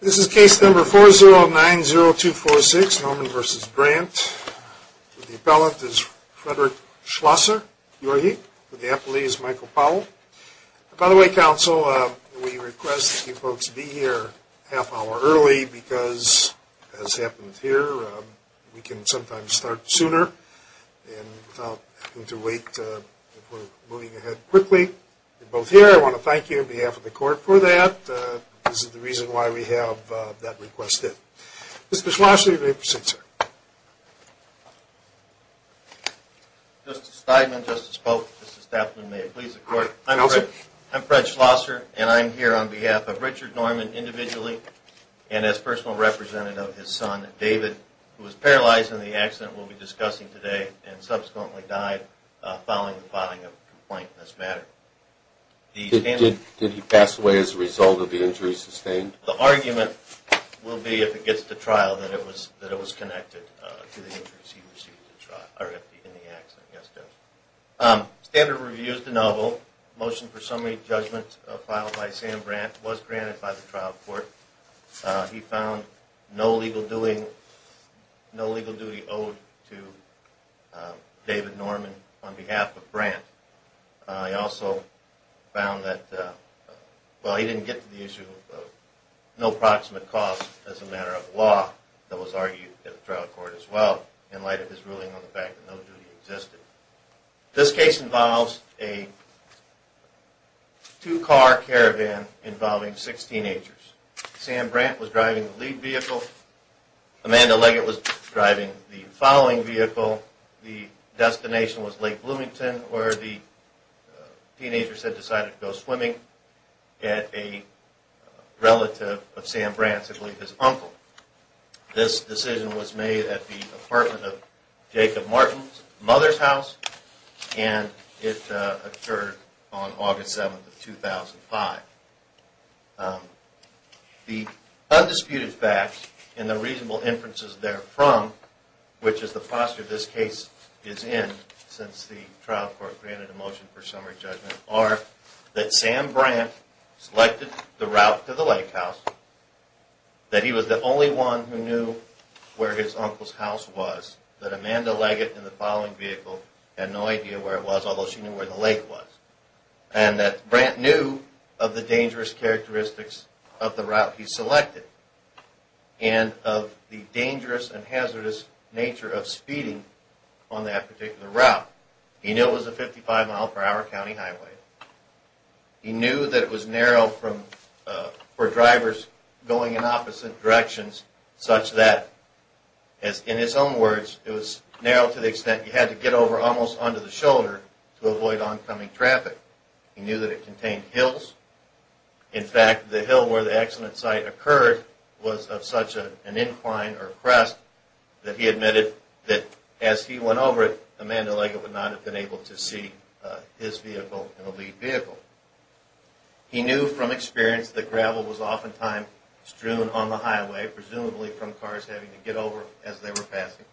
This is case number 4090246, Norman v. Brandt. The appellant is Frederick Schlosser, URE. The appellee is Michael Powell. By the way, counsel, we request that you folks be here a half hour early because, as happens here, we can sometimes start sooner and without having to wait if we're moving ahead quickly. You're both here. I want to thank you on behalf of the court for that. This is the reason why we have that request in. Mr. Schlosser, you may proceed, sir. Justice Steinman, Justice Polk, Mr. Stafford, and may it please the court, I'm Fred Schlosser, and I'm here on behalf of Richard Norman individually and as personal representative of his son, David, who was paralyzed in the accident we'll be discussing today and subsequently died following the filing of a complaint in this matter. Did he pass away as a result of the injury sustained? The argument will be, if it gets to trial, that it was connected to the injuries he received in the accident. Yes, Judge. Standard Review is de novo. Motion for summary judgment filed by Sam Brandt was granted by the trial court. He found no legal duty owed to David Norman on behalf of Brandt. He also found that, well, he didn't get to the issue of no proximate cause as a matter of law that was argued at the trial court as well in light of his ruling on the fact that no duty existed. This case involves a two-car caravan involving six teenagers. Sam Brandt was driving the lead vehicle. Amanda Leggett was driving the following vehicle. The destination was Lake Bloomington where the teenagers had decided to go swimming at a relative of Sam Brandt's, I believe his uncle. This decision was made at the apartment of Jacob Martin's mother's house and it occurred on August 7, 2005. The undisputed facts and the reasonable inferences therefrom, which is the posture this case is in since the trial court granted a motion for summary judgment, are that Sam Brandt selected the route to the lake house, that he was the only one who knew where his uncle's house was, that Amanda Leggett in the following vehicle had no idea where it was, although she knew where the lake was, and that Brandt knew of the dangerous characteristics of the route he selected and of the dangerous and hazardous nature of speeding on that particular route. He knew it was a 55 mile per hour county highway. He knew that it was narrow for drivers going in opposite directions such that, in his own words, it was narrow to the extent you had to get over almost under the shoulder to avoid oncoming traffic. He knew that it contained hills. In fact, the hill where the accident site occurred was of such an incline or crest that he admitted that as he went over it, Amanda Leggett would not have been able to see his vehicle in a lead vehicle. He knew from experience that gravel was oftentimes strewn on the highway, presumably from cars having to get over as they were passing.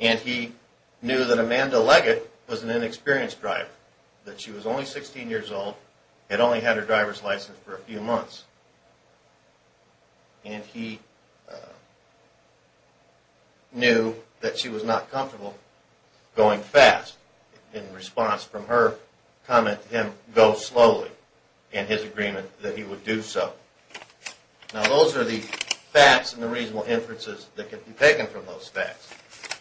And he knew that Amanda Leggett was an inexperienced driver, that she was only 16 years old, had only had her driver's license for a few months, and he knew that she was not comfortable going fast. In response from her, he commented to him, go slowly, in his agreement that he would do so. Now those are the facts and the reasonable inferences that can be taken from those facts.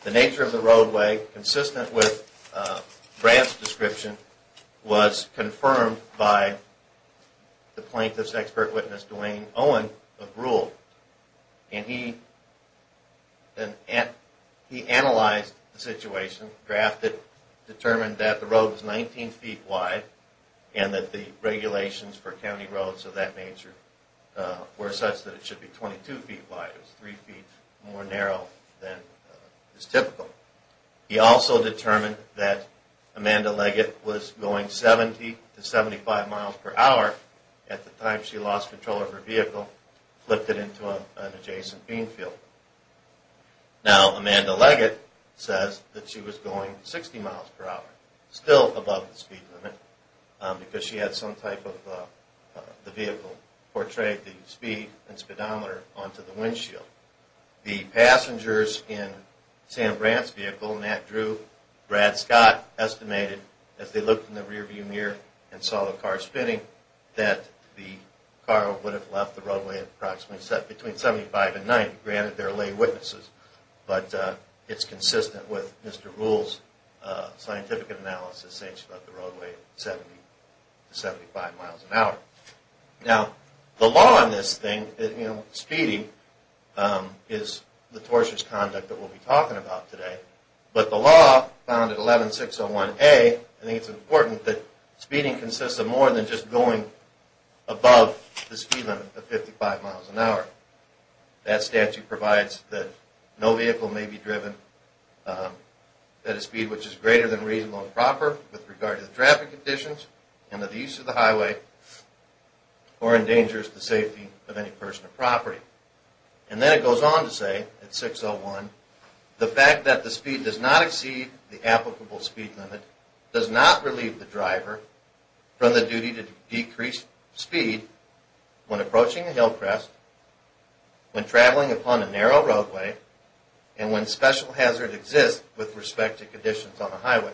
The nature of the roadway, consistent with Brad's description, was confirmed by the plaintiff's expert witness, Duane Owen, of Rule. And he analyzed the situation, determined that the road was 19 feet wide, and that the regulations for county roads of that nature were such that it should be 22 feet wide. It was three feet more narrow than is typical. He also determined that Amanda Leggett was going 70 to 75 miles per hour at the time she lost control of her vehicle, flipped it into an adjacent bean field. Now Amanda Leggett says that she was going 60 miles per hour, still above the speed limit, because she had some type of vehicle that portrayed the speed and speedometer onto the windshield. The passengers in Sam Brant's vehicle, Matt Drew, Brad Scott, estimated, as they looked in the rearview mirror and saw the car spinning, that the car would have left the roadway between 75 and 90. Granted, they're lay witnesses, but it's consistent with Mr. Rule's scientific analysis saying she left the roadway at 70 to 75 miles per hour. Now, the law on this thing, you know, speeding, is the tortious conduct that we'll be talking about today. But the law found at 11601A, I think it's important that speeding consists of more than just going above the speed limit of 55 miles per hour. That statute provides that no vehicle may be driven at a speed which is greater than reasonable and proper with regard to the traffic conditions and the use of the highway or endangers the safety of any person or property. And then it goes on to say at 601, the fact that the speed does not exceed the applicable speed limit does not relieve the driver from the duty to decrease speed when approaching a hill crest, when traveling upon a narrow roadway, and when special hazard exists with respect to conditions on the highway.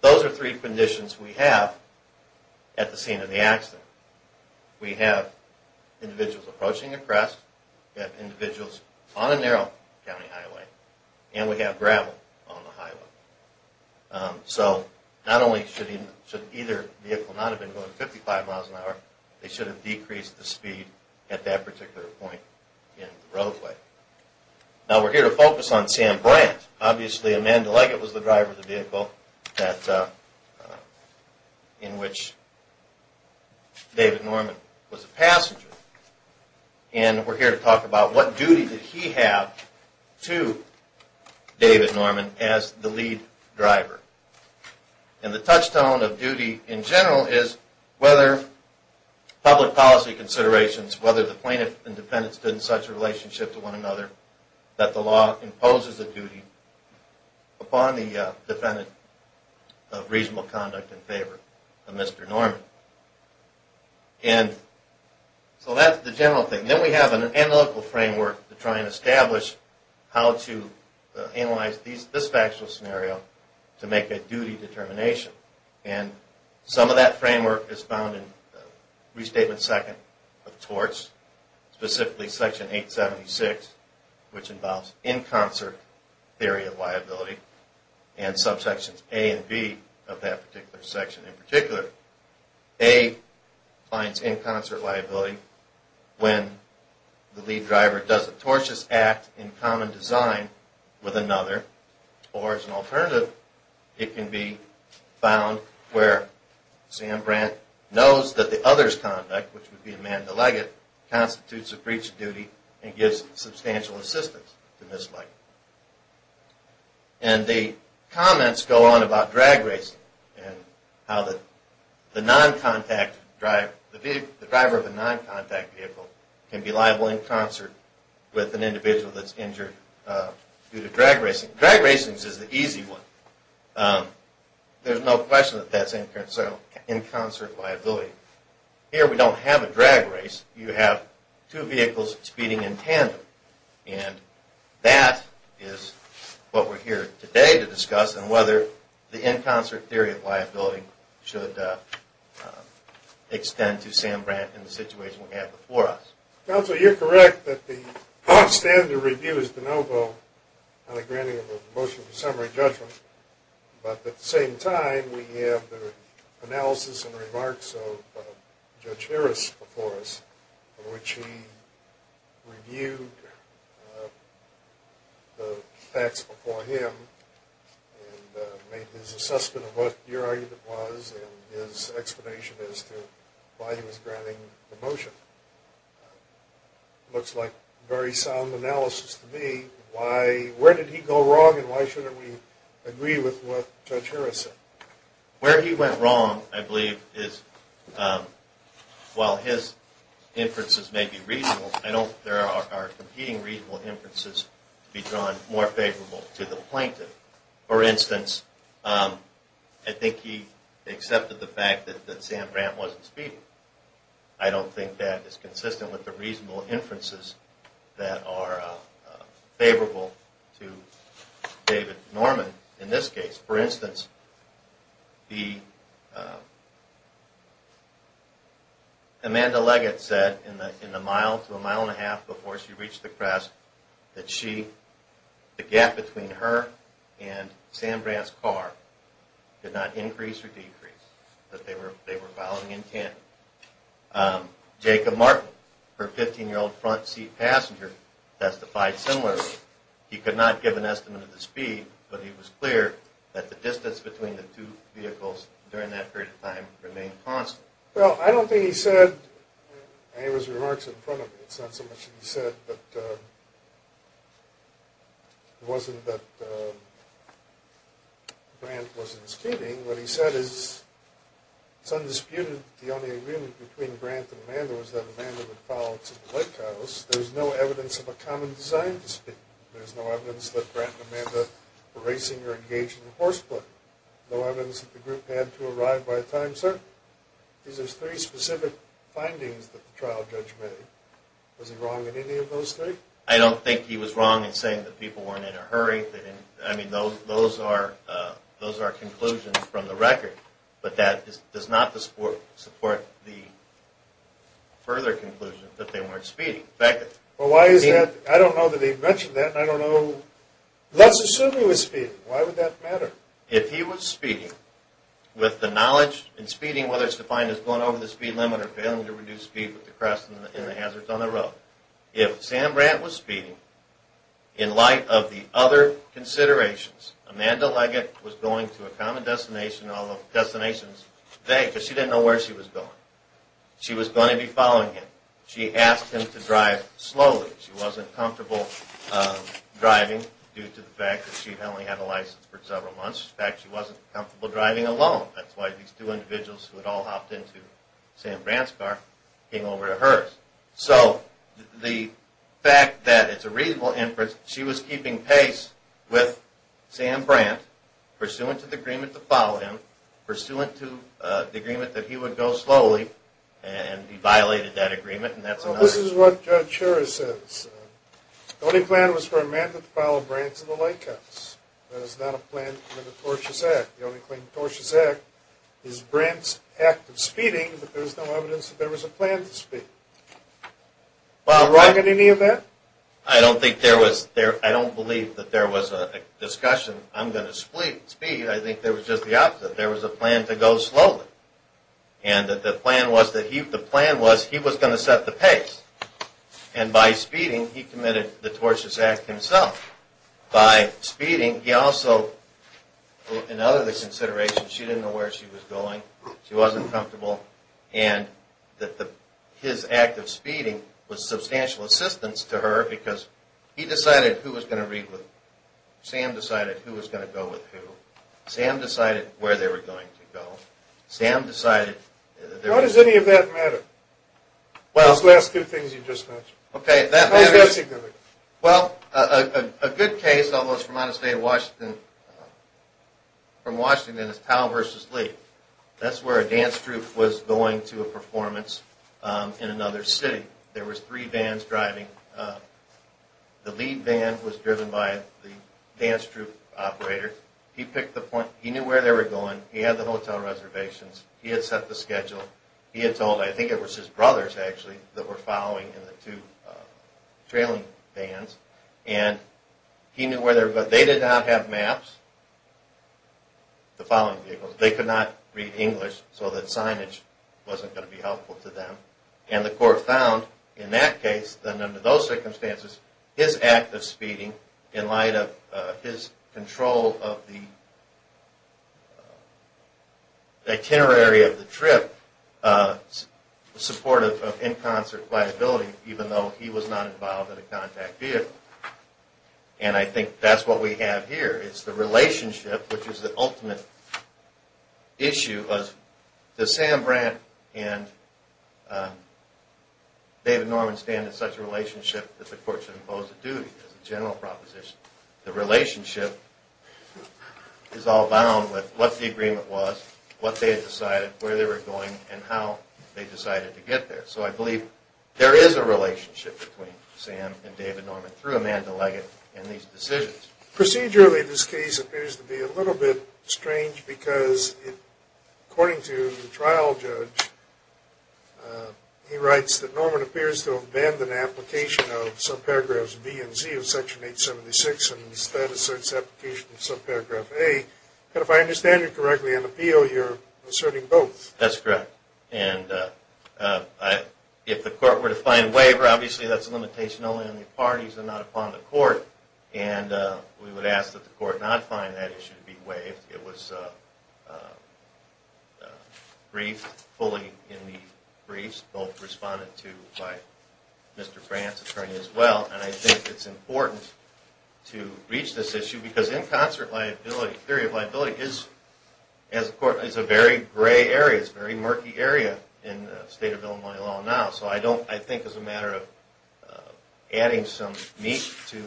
Those are three conditions we have at the scene of the accident. We have individuals approaching a crest, we have individuals on a narrow county highway, and we have gravel on the highway. So not only should either vehicle not have been going 55 miles per hour, they should have decreased the speed at that particular point in the roadway. Now we're here to focus on Sam Brandt. Obviously Amanda Leggett was the driver of the vehicle in which David Norman was a passenger. And we're here to talk about what duty did he have to David Norman as the lead driver. And the touchstone of duty in general is whether public policy considerations, whether the plaintiff and defendant stood in such a relationship to one another that the law imposes a duty upon the defendant of reasonable conduct in favor of Mr. Norman. And so that's the general thing. Then we have an analytical framework to try and establish how to analyze this factual scenario to make a duty determination. And some of that framework is found in Restatement 2 of TORCH, specifically Section 876, which involves in-concert theory of liability, and subsections A and B of that particular section. In particular, A finds in-concert liability when the lead driver does a tortious act in common design with another. Or as an alternative, it can be found where Sam Brandt knows that the other's conduct, which would be Amanda Leggett, constitutes a breach of duty and gives substantial assistance to Ms. Leggett. And the comments go on about drag racing and how the driver of a non-contact vehicle can be liable in concert with an individual that's injured due to drag racing. Drag racing is the easy one. There's no question that that's in-concert liability. Here we don't have a drag race. You have two vehicles speeding in tandem. And that is what we're here today to discuss and whether the in-concert theory of liability should extend to Sam Brandt in the situation we have before us. Counsel, you're correct that the standard review is de novo on the granting of a motion for summary judgment. But at the same time, we have the analysis and remarks of Judge Harris before us, in which he reviewed the facts before him and made his assessment of what your argument was and his explanation as to why he was granting the motion. It looks like a very sound analysis to me. Where did he go wrong and why shouldn't we agree with what Judge Harris said? Where he went wrong, I believe, is while his inferences may be reasonable, I don't think there are competing reasonable inferences to be drawn more favorable to the plaintiff. For instance, I think he accepted the fact that Sam Brandt wasn't speeding. I don't think that is consistent with the reasonable inferences that are favorable to David Norman in this case. For instance, Amanda Leggett said in the mile to a mile and a half before she reached the crest that the gap between her and Sam Brandt's car did not increase or decrease, that they were following in tandem. Jacob Martin, her 15-year-old front seat passenger, testified similarly. He could not give an estimate of the speed, but he was clear that the distance between the two vehicles during that period of time remained constant. Well, I don't think he said any of his remarks in front of me. It's not so much that he said that it wasn't that Brandt wasn't speeding. What he said is it's undisputed that the only agreement between Brandt and Amanda was that Amanda would follow to the lake house. There's no evidence of a common design dispute. There's no evidence that Brandt and Amanda were racing or engaging in horseplay. No evidence that the group had to arrive by a time certain. These are three specific findings that the trial judge made. Was he wrong in any of those three? I don't think he was wrong in saying that people weren't in a hurry. I mean, those are conclusions from the record, but that does not support the further conclusion that they weren't speeding. Well, why is that? I don't know that he mentioned that, and I don't know. Let's assume he was speeding. Why would that matter? If he was speeding, with the knowledge in speeding, whether it's defined as going over the speed limit or failing to reduce speed with the crest and the hazards on the road, if Sam Brandt was speeding, in light of the other considerations, Amanda Leggett was going to a common destination all of the destinations today because she didn't know where she was going. She was going to be following him. She asked him to drive slowly. She wasn't comfortable driving due to the fact that she had only had a license for several months. In fact, she wasn't comfortable driving alone. That's why these two individuals who had all hopped into Sam Brandt's car came over to hers. So the fact that it's a reasonable inference, she was keeping pace with Sam Brandt, pursuant to the agreement to follow him, pursuant to the agreement that he would go slowly, and he violated that agreement. Well, this is what Judge Shura says. The only plan was for Amanda to follow Brandt to the lake house. That is not a plan under the Tortious Act. The only claim in the Tortious Act is Brandt's act of speeding, but there's no evidence that there was a plan to speed. Am I wrong in any of that? I don't think there was. I don't believe that there was a discussion, I'm going to speed. I think there was just the opposite. There was a plan to go slowly, and that the plan was he was going to set the pace, and by speeding, he committed the Tortious Act himself. By speeding, he also, in other considerations, she didn't know where she was going, she wasn't comfortable, and that his act of speeding was substantial assistance to her because he decided who was going to read with who, Sam decided who was going to go with who, Sam decided where they were going to go, Sam decided... How does any of that matter? Those last two things you just mentioned. Okay, that matters. How is that significant? Well, a good case, although it's from out of state, from Washington, is Powell v. Lee. That's where a dance troupe was going to a performance in another city. There was three vans driving. The lead van was driven by the dance troupe operator. He picked the point. He knew where they were going. He had the hotel reservations. He had set the schedule. He had told, I think it was his brothers, actually, that were following in the two trailing vans, and he knew where they were going. They did not have maps, the following vehicles. They could not read English, so that signage wasn't going to be helpful to them, and the court found, in that case, and under those circumstances, his act of speeding in light of his control of the itinerary of the trip supportive of in-concert viability, even though he was not involved in a contact vehicle. And I think that's what we have here is the relationship, which is the ultimate issue. Does Sam Brandt and David Norman stand in such a relationship that the court should impose a duty as a general proposition? The relationship is all bound with what the agreement was, what they had decided, where they were going, and how they decided to get there. So I believe there is a relationship between Sam and David Norman through Amanda Leggett and these decisions. Procedurally, this case appears to be a little bit strange because, according to the trial judge, he writes that Norman appears to have abandoned application of subparagraphs B and Z of Section 876 and instead asserts application of subparagraph A. But if I understand you correctly, on appeal, you're asserting both. That's correct. And if the court were to find waiver, obviously that's a limitation only on the parties and not upon the court. And we would ask that the court not find that issue to be waived. It was briefed fully in the briefs, both responded to by Mr. Brandt's attorney as well. And I think it's important to reach this issue because in concert liability, theory of liability, is a very gray area. It's a very murky area in the state of Illinois law now. So I think it's a matter of adding some meat to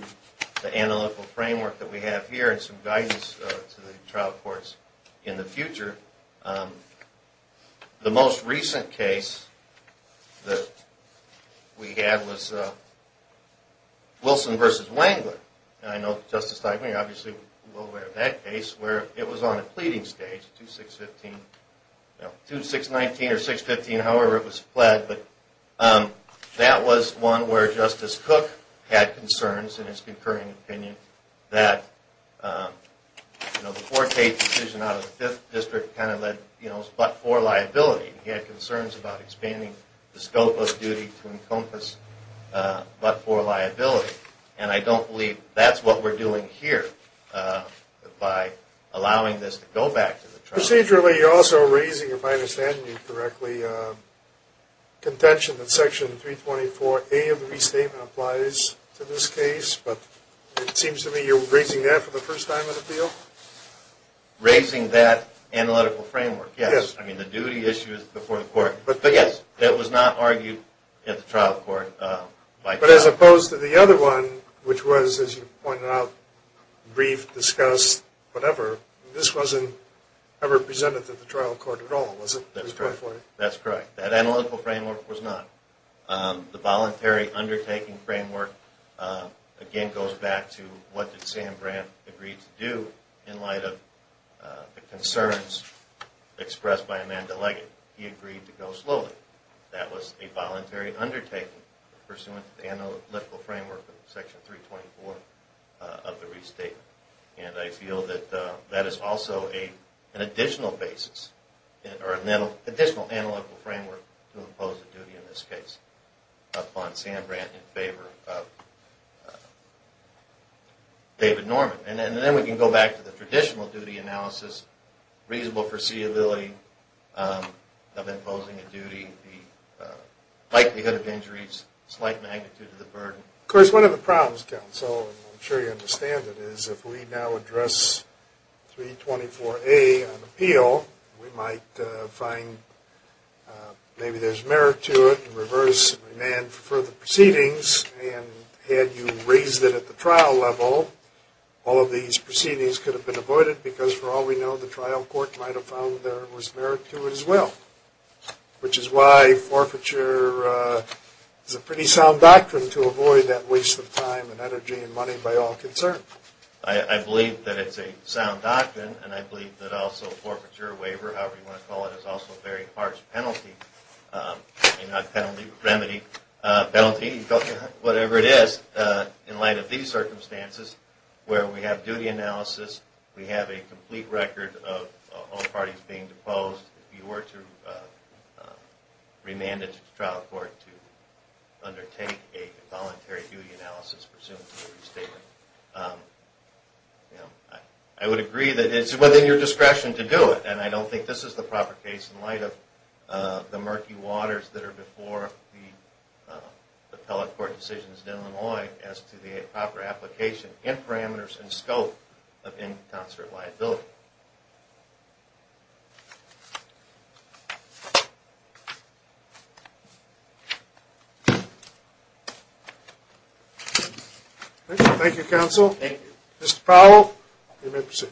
the analytical framework that we have here and some guidance to the trial courts in the future. The most recent case that we had was Wilson v. Wangler. And I know Justice Steinman, you're obviously well aware of that case, where it was on a pleading stage, 2619 or 615, however it was pled, but that was one where Justice Cook had concerns in his concurring opinion that, you know, the four case decision out of the fifth district kind of led, you know, but for liability. He had concerns about expanding the scope of duty to encompass but for liability. And I don't believe that's what we're doing here by allowing this to go back to the trial. Procedurally, you're also raising, if I understand you correctly, contention that Section 324A of the restatement applies to this case, but it seems to me you're raising that for the first time in the field. Raising that analytical framework, yes. Yes. I mean, the duty issue is before the court. But, yes, that was not argued at the trial court by trial. But as opposed to the other one, which was, as you pointed out, brief, discussed, whatever, this wasn't ever presented to the trial court at all, was it? That's correct. That analytical framework was not. The voluntary undertaking framework, again, goes back to what Sam Brandt agreed to do in light of the concerns expressed by Amanda Leggett. He agreed to go slowly. That was a voluntary undertaking pursuant to the analytical framework of Section 324 of the restatement. And I feel that that is also an additional basis or an additional analytical framework to impose a duty in this case upon Sam Brandt in favor of David Norman. And then we can go back to the traditional duty analysis, reasonable foreseeability of imposing a duty, the likelihood of injuries, slight magnitude of the burden. Of course, one of the problems, counsel, and I'm sure you understand it, is if we now address 324A on appeal, we might find maybe there's merit to it and reverse and remand for the proceedings. And had you raised it at the trial level, all of these proceedings could have been avoided because, for all we know, the trial court might have found there was merit to it as well, which is why forfeiture is a pretty sound doctrine to avoid that waste of time and energy and money by all concerns. I believe that it's a sound doctrine, and I believe that also forfeiture, waiver, however you want to call it, is also a very harsh penalty, not penalty, remedy, penalty, whatever it is, in light of these circumstances where we have duty analysis, we have a complete record of all parties being deposed. If you were to remand it to the trial court to undertake a voluntary duty analysis presumed to be restated, I would agree that it's within your discretion to do it, and I don't think this is the proper case in light of the murky waters that are before the appellate court decisions in Illinois as to the proper application and parameters and scope of in-counselor liability. Thank you, counsel. Thank you. Mr. Powell, you may proceed.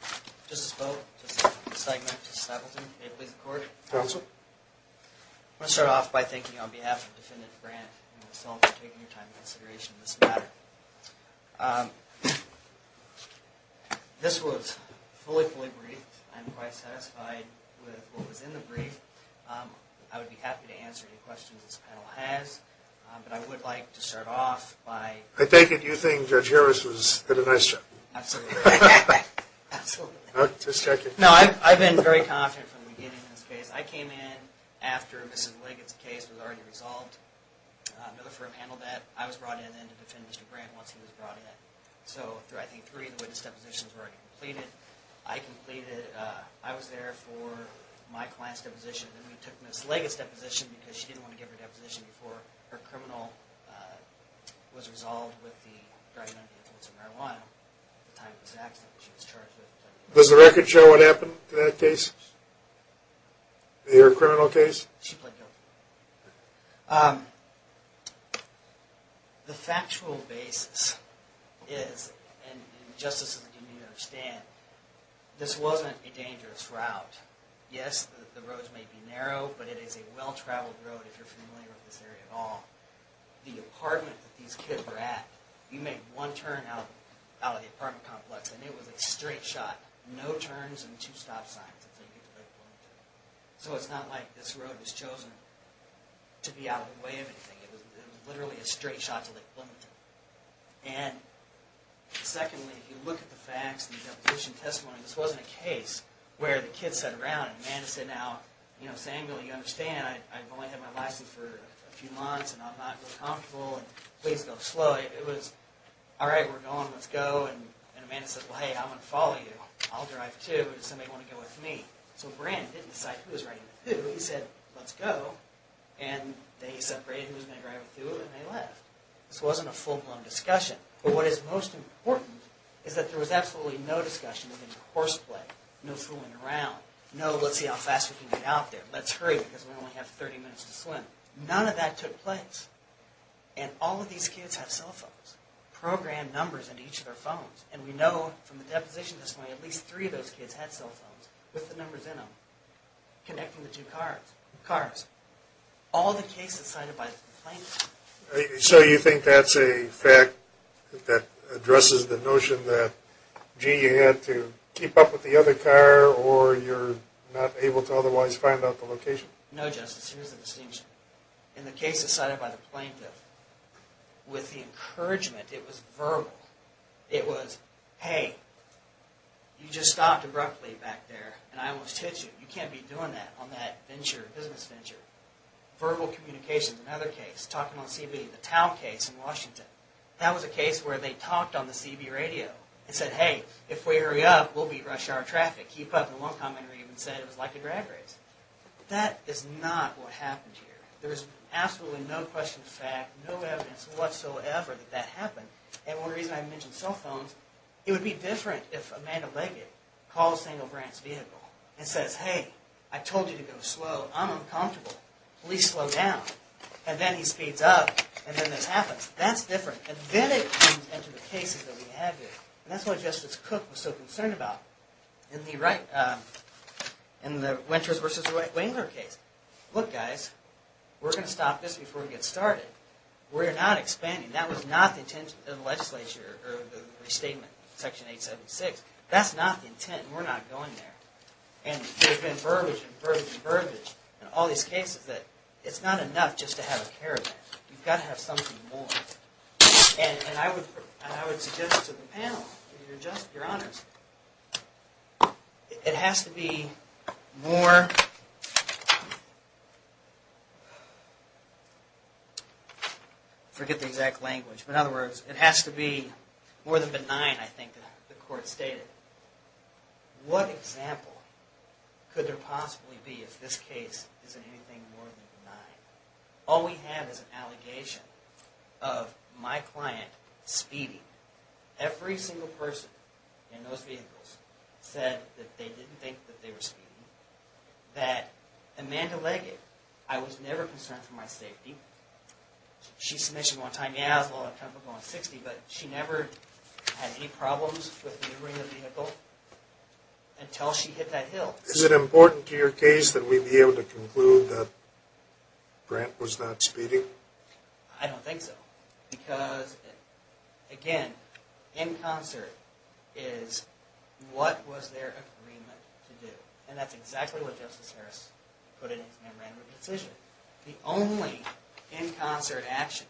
Thank you. Justice Bowe, Justice Stegman, Justice Appleton, may it please the Court. Counsel. I want to start off by thanking you on behalf of Defendant Brandt and yourself for taking your time and consideration in this matter. This was fully, fully briefed. I'm quite satisfied with what was in the brief. I would be happy to answer any questions this panel has, but I would like to start off by... I take it you think Judge Harris did a nice job. Absolutely. Absolutely. Just checking. No, I've been very confident from the beginning in this case. I came in after Mrs. Liggett's case was already resolved. Another firm handled that. I was brought in then to defend Mr. Brandt once he was brought in. So, I think three of the witness depositions were already completed. I completed... I was there for my client's deposition. Then we took Mrs. Liggett's deposition because she didn't want to give her deposition before her criminal... was resolved with the drug and anti-influencer marijuana at the time of this accident that she was charged with. Does the record show what happened to that case? Your criminal case? She pled guilty. Um... The factual basis is, and justice is that you need to understand, this wasn't a dangerous route. Yes, the roads may be narrow, but it is a well-traveled road if you're familiar with this area at all. The apartment that these kids were at, you make one turn out of the apartment complex and it was a straight shot. No turns and two stop signs. So, it's not like this road was chosen to be out of the way of anything. It was literally a straight shot to Lake Wilmington. And, secondly, if you look at the facts and the deposition testimony, this wasn't a case where the kids sat around and Amanda said, now, you know, Samuel, you understand, I've only had my license for a few months and I'm not real comfortable and please go slow. It was, alright, we're going, let's go. And Amanda said, well, hey, I'm going to follow you. I'll drive too. Does somebody want to go with me? So, Brandon didn't decide who was riding with who. He said, let's go. And they separated who was going to drive with who and they left. This wasn't a full-blown discussion. But what is most important is that there was absolutely no discussion of any horseplay. No fooling around. No, let's see how fast we can get out there. Let's hurry because we only have 30 minutes to swim. None of that took place. And all of these kids have cell phones. Programmed numbers into each of their phones. And we know from the deposition testimony, at least three of those kids had cell phones with the numbers in them. Connecting the two cars. All the cases cited by the plaintiff. So you think that's a fact that addresses the notion that, gee, you had to keep up with the other car or you're not able to otherwise find out the location? No, Justice. Here's the distinction. In the cases cited by the plaintiff, with the encouragement, it was verbal. It was, hey, you just stopped abruptly back there and I almost hit you. You can't be doing that on that venture, business venture. Verbal communication is another case. Talking on CB, the town case in Washington. That was a case where they talked on the CB radio and said, hey, if we hurry up, we'll beat rush hour traffic. Keep up. And one commenter even said it was like a drag race. That is not what happened here. There is absolutely no question of fact, no evidence whatsoever that that happened. And one reason I mention cell phones, it would be different if a man of legit called a single branch vehicle and says, hey, I told you to go slow. I'm uncomfortable. Please slow down. And then he speeds up and then this happens. That's different. And then it comes into the cases that we have here. And that's what Justice Cook was so concerned about. In the right, in the Winters versus Wengler case. Look, guys, we're going to stop this before we get started. We're not expanding. That was not the intent of the legislature or the restatement, section 876. That's not the intent. We're not going there. And there's been verbiage and verbiage and verbiage in all these cases that it's not enough just to have a caravan. You've got to have something more. And I would suggest to the panel, if you're just, if you're honest, it has to be more. Forget the exact language, but in other words, it has to be more than benign. I think the court stated. What example could there possibly be if this case isn't anything more than benign? All we have is an allegation of my client speeding. Every single person in those vehicles said that they didn't think that they were speeding. That Amanda Leggett, I was never concerned for my safety. She's submissive on time. Yeah, I was a little uncomfortable on 60, but she never had any problems with maneuvering the vehicle until she hit that hill. Is it important to your case that we be able to conclude that Grant was not speeding? I don't think so. Because, again, in concert is what was their agreement to do? And that's exactly what Justice Harris put in his memorandum of decision. The only in concert action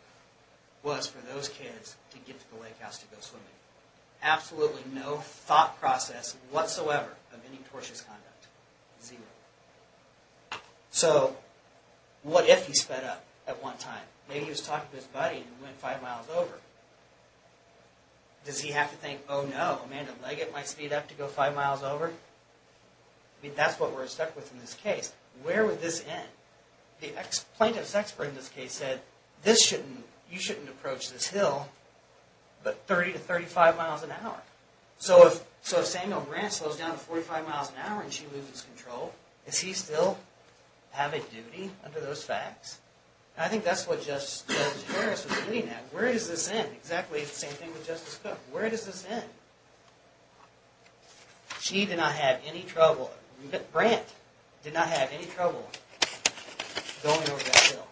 was for those kids to get to the lake house to go swimming. Absolutely no thought process whatsoever of any tortious conduct. Zero. So, what if he sped up at one time? Maybe he was talking to his buddy who went five miles over. Does he have to think, oh no, Amanda Leggett might speed up to go five miles over? I mean, that's what we're stuck with in this case. Where would this end? The plaintiff's expert in this case said, you shouldn't approach this hill but 30 to 35 miles an hour. So if Samuel Grant slows down to 45 miles an hour and she loses control, does he still have a duty under those facts? And I think that's what Justice Harris was looking at. Where does this end? Exactly the same thing with Justice Cook. Where does this end? She did not have any trouble. Grant did not have any trouble going over that hill.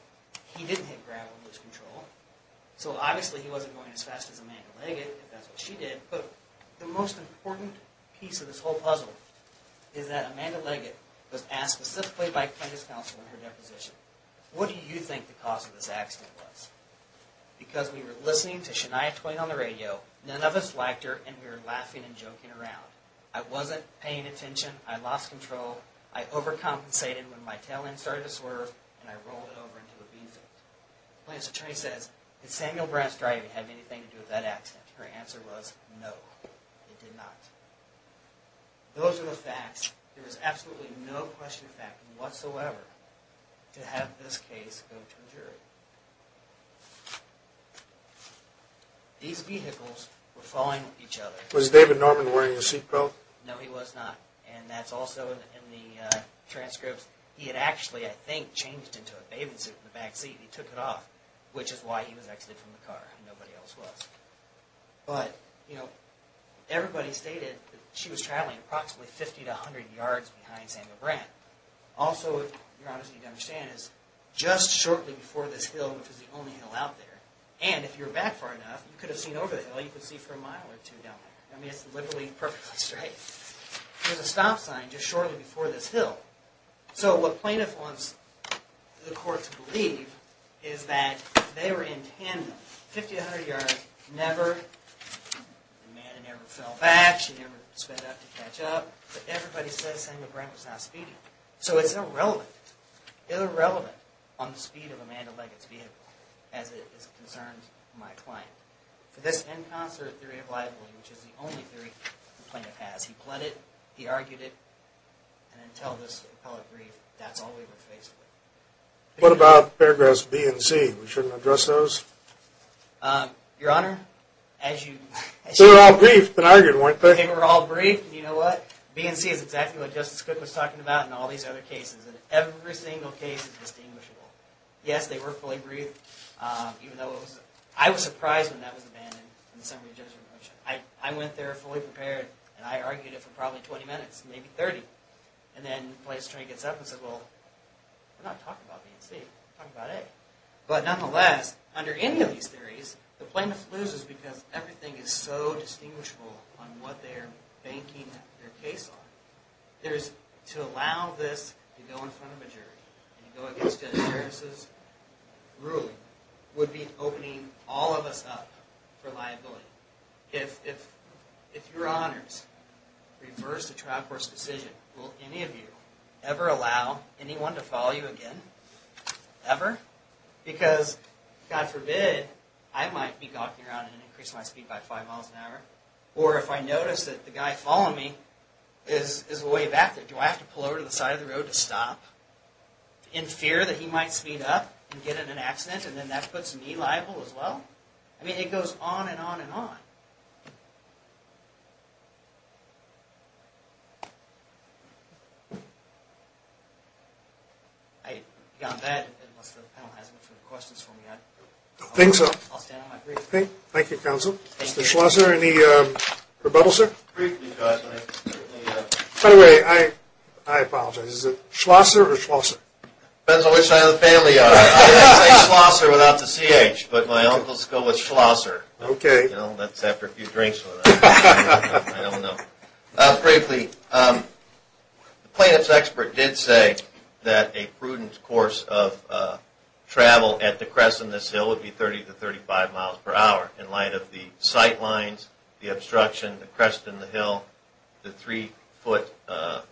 He didn't hit gravel and lose control. So obviously he wasn't going as fast as Amanda Leggett if that's what she did. But the most important piece of this whole puzzle is that Amanda Leggett was asked specifically by plaintiff's counsel in her deposition, what do you think the cause of this accident was? Because we were listening to Shania Twain on the radio, none of us liked her and we were laughing and joking around. I wasn't paying attention. I lost control. I overcompensated when my tail end started to swerve and I rolled it over into a b-zone. Plaintiff's attorney says, did Samuel Grant's driving have anything to do with that accident? Her answer was no, it did not. Those are the facts. There is absolutely no question factor whatsoever to have this case go to a jury. These vehicles were following each other. Was David Norman wearing a seat belt? No, he was not. And that's also in the transcripts. He had actually, I think, changed into a bathing suit in the back seat and he took it off, which is why he was exited from the car and nobody else was. But, you know, everybody stated that she was traveling approximately 50 to 100 yards behind Samuel Grant. Also, if you're honest and you can understand this, just shortly before this hill, which is the only hill out there, and if you're back far enough, you could have seen over the hill, you could see for a mile or two down there. I mean, it's literally perfectly straight. There's a stop sign just shortly before this hill. So what plaintiff wants the court to believe is that they were in tandem. 50 to 100 yards, never, Amanda never fell back, she never sped up to catch up, but everybody says Samuel Grant was not speeding. So it's irrelevant. It's irrelevant on the speed of Amanda Leggett's vehicle as it concerns my client. For this inconsiderate theory of liability, which is the only theory the plaintiff has, he pled it, he argued it, and until this appellate brief, that's all we were faced with. What about paragraphs B and C? We shouldn't address those? Your Honor, as you... They were all briefed and argued, weren't they? They were all briefed, and you know what? B and C is exactly what Justice Cook was talking about in all these other cases, and every single case is distinguishable. Yes, they were fully briefed, even though it was... I was surprised when that was abandoned in the summary judgment motion. I went there fully prepared, and I argued it for probably 20 minutes, maybe 30, and then the plaintiff's attorney gets up and says, well, we're not talking about B and C, we're talking about A. But nonetheless, under any of these theories, the plaintiff loses because everything is so distinguishable on what they're banking their case on. To allow this to go in front of a jury and go against Judge Harris's ruling would be opening all of us up for liability. If your Honors refers to trial court's decision, will any of you ever allow anyone to follow you again? Ever? Because, God forbid, I might be gawking around and increase my speed by 5 miles an hour, or if I notice that the guy following me is way back there, do I have to pull over to the side of the road to stop in fear that he might speed up and get in an accident, and then that puts me liable as well? I mean, it goes on and on and on. I got that, unless the panel has any further questions for me. I think so. I'll stand on my brief. Thank you, counsel. Mr. Schlosser, any rebuttals, sir? By the way, I apologize. Is it Schlosser or Schlosser? Depends on which side of the family you are. I would say Schlosser without the C-H, but my uncle's go with Schlosser. Okay. You know, that's after a few drinks with him. I don't know. Briefly, the plaintiff's expert did say that a prudent course of travel at the crest of this hill would be 30 to 35 miles per hour, in light of the sight lines, the obstruction, the crest of the hill, the three-foot or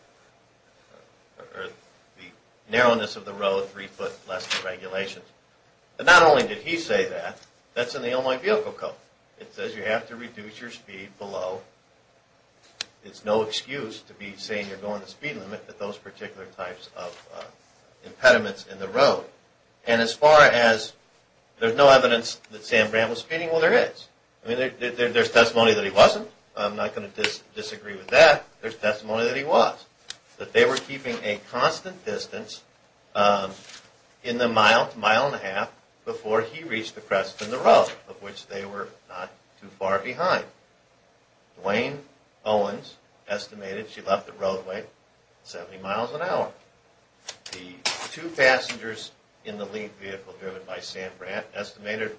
the narrowness of the road, three-foot less regulations. And not only did he say that, that's in the Illinois Vehicle Code. It says you have to reduce your speed below. It's no excuse to be saying you're going the speed limit with those particular types of impediments in the road. And as far as there's no evidence that Sam Brant was speeding, well, there is. I mean, there's testimony that he wasn't. I'm not going to disagree with that. There's testimony that he was, that they were keeping a constant distance in the mile to mile and a half before he reached the crest and the road, of which they were not too far behind. Duane Owens estimated she left the roadway at 70 miles an hour. The two passengers in the lead vehicle driven by Sam Brant estimated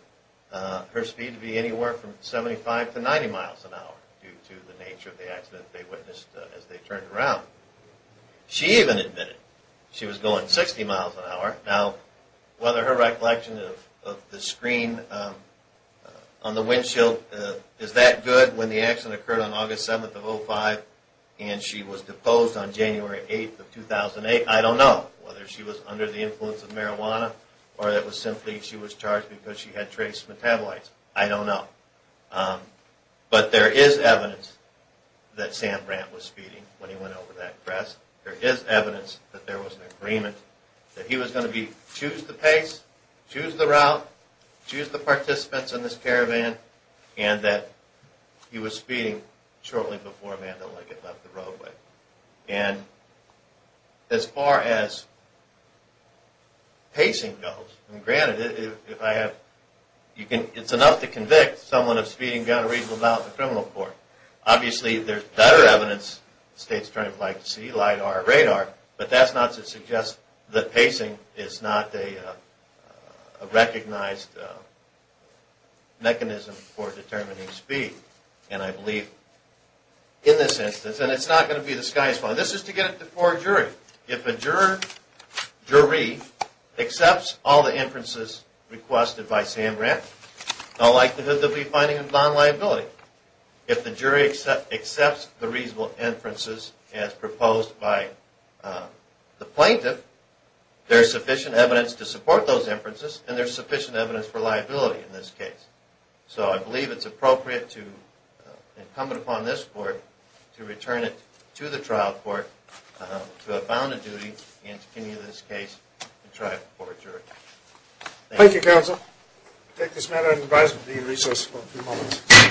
her speed to be anywhere from 75 to 90 miles an hour due to the nature of the accident they witnessed as they turned around. She even admitted she was going 60 miles an hour. Now, whether her recollection of the screen on the windshield is that good, when the accident occurred on August 7th of 2005 and she was deposed on January 8th of 2008, I don't know whether she was under the influence of marijuana or it was simply she was charged because she had trace metabolites. I don't know. But there is evidence that Sam Brant was speeding when he went over that crest. There is evidence that there was an agreement that he was going to choose the pace, choose the route, choose the participants in this caravan, and that he was speeding shortly before Amanda Lincoln left the roadway. And as far as pacing goes, and granted, it's enough to convict someone of speeding down a reasonable route in a criminal court. Obviously, there's better evidence the State's Attorney would like to see, LIDAR or radar, but that's not to suggest that pacing is not a recognized mechanism for determining speed. And I believe in this instance, and it's not going to be the sky is the limit, this is to get it before a jury. If a jury accepts all the inferences requested by Sam Brant, the likelihood they'll be finding him non-liability. If the jury accepts the reasonable inferences as proposed by the plaintiff, there's sufficient evidence to support those inferences, and there's sufficient evidence for liability in this case. So I believe it's appropriate and incumbent upon this court to return it to the trial court to have found a duty in this case and try it before a jury. Thank you. Thank you, Counsel. We'll take this matter and advise of the resource for a few moments.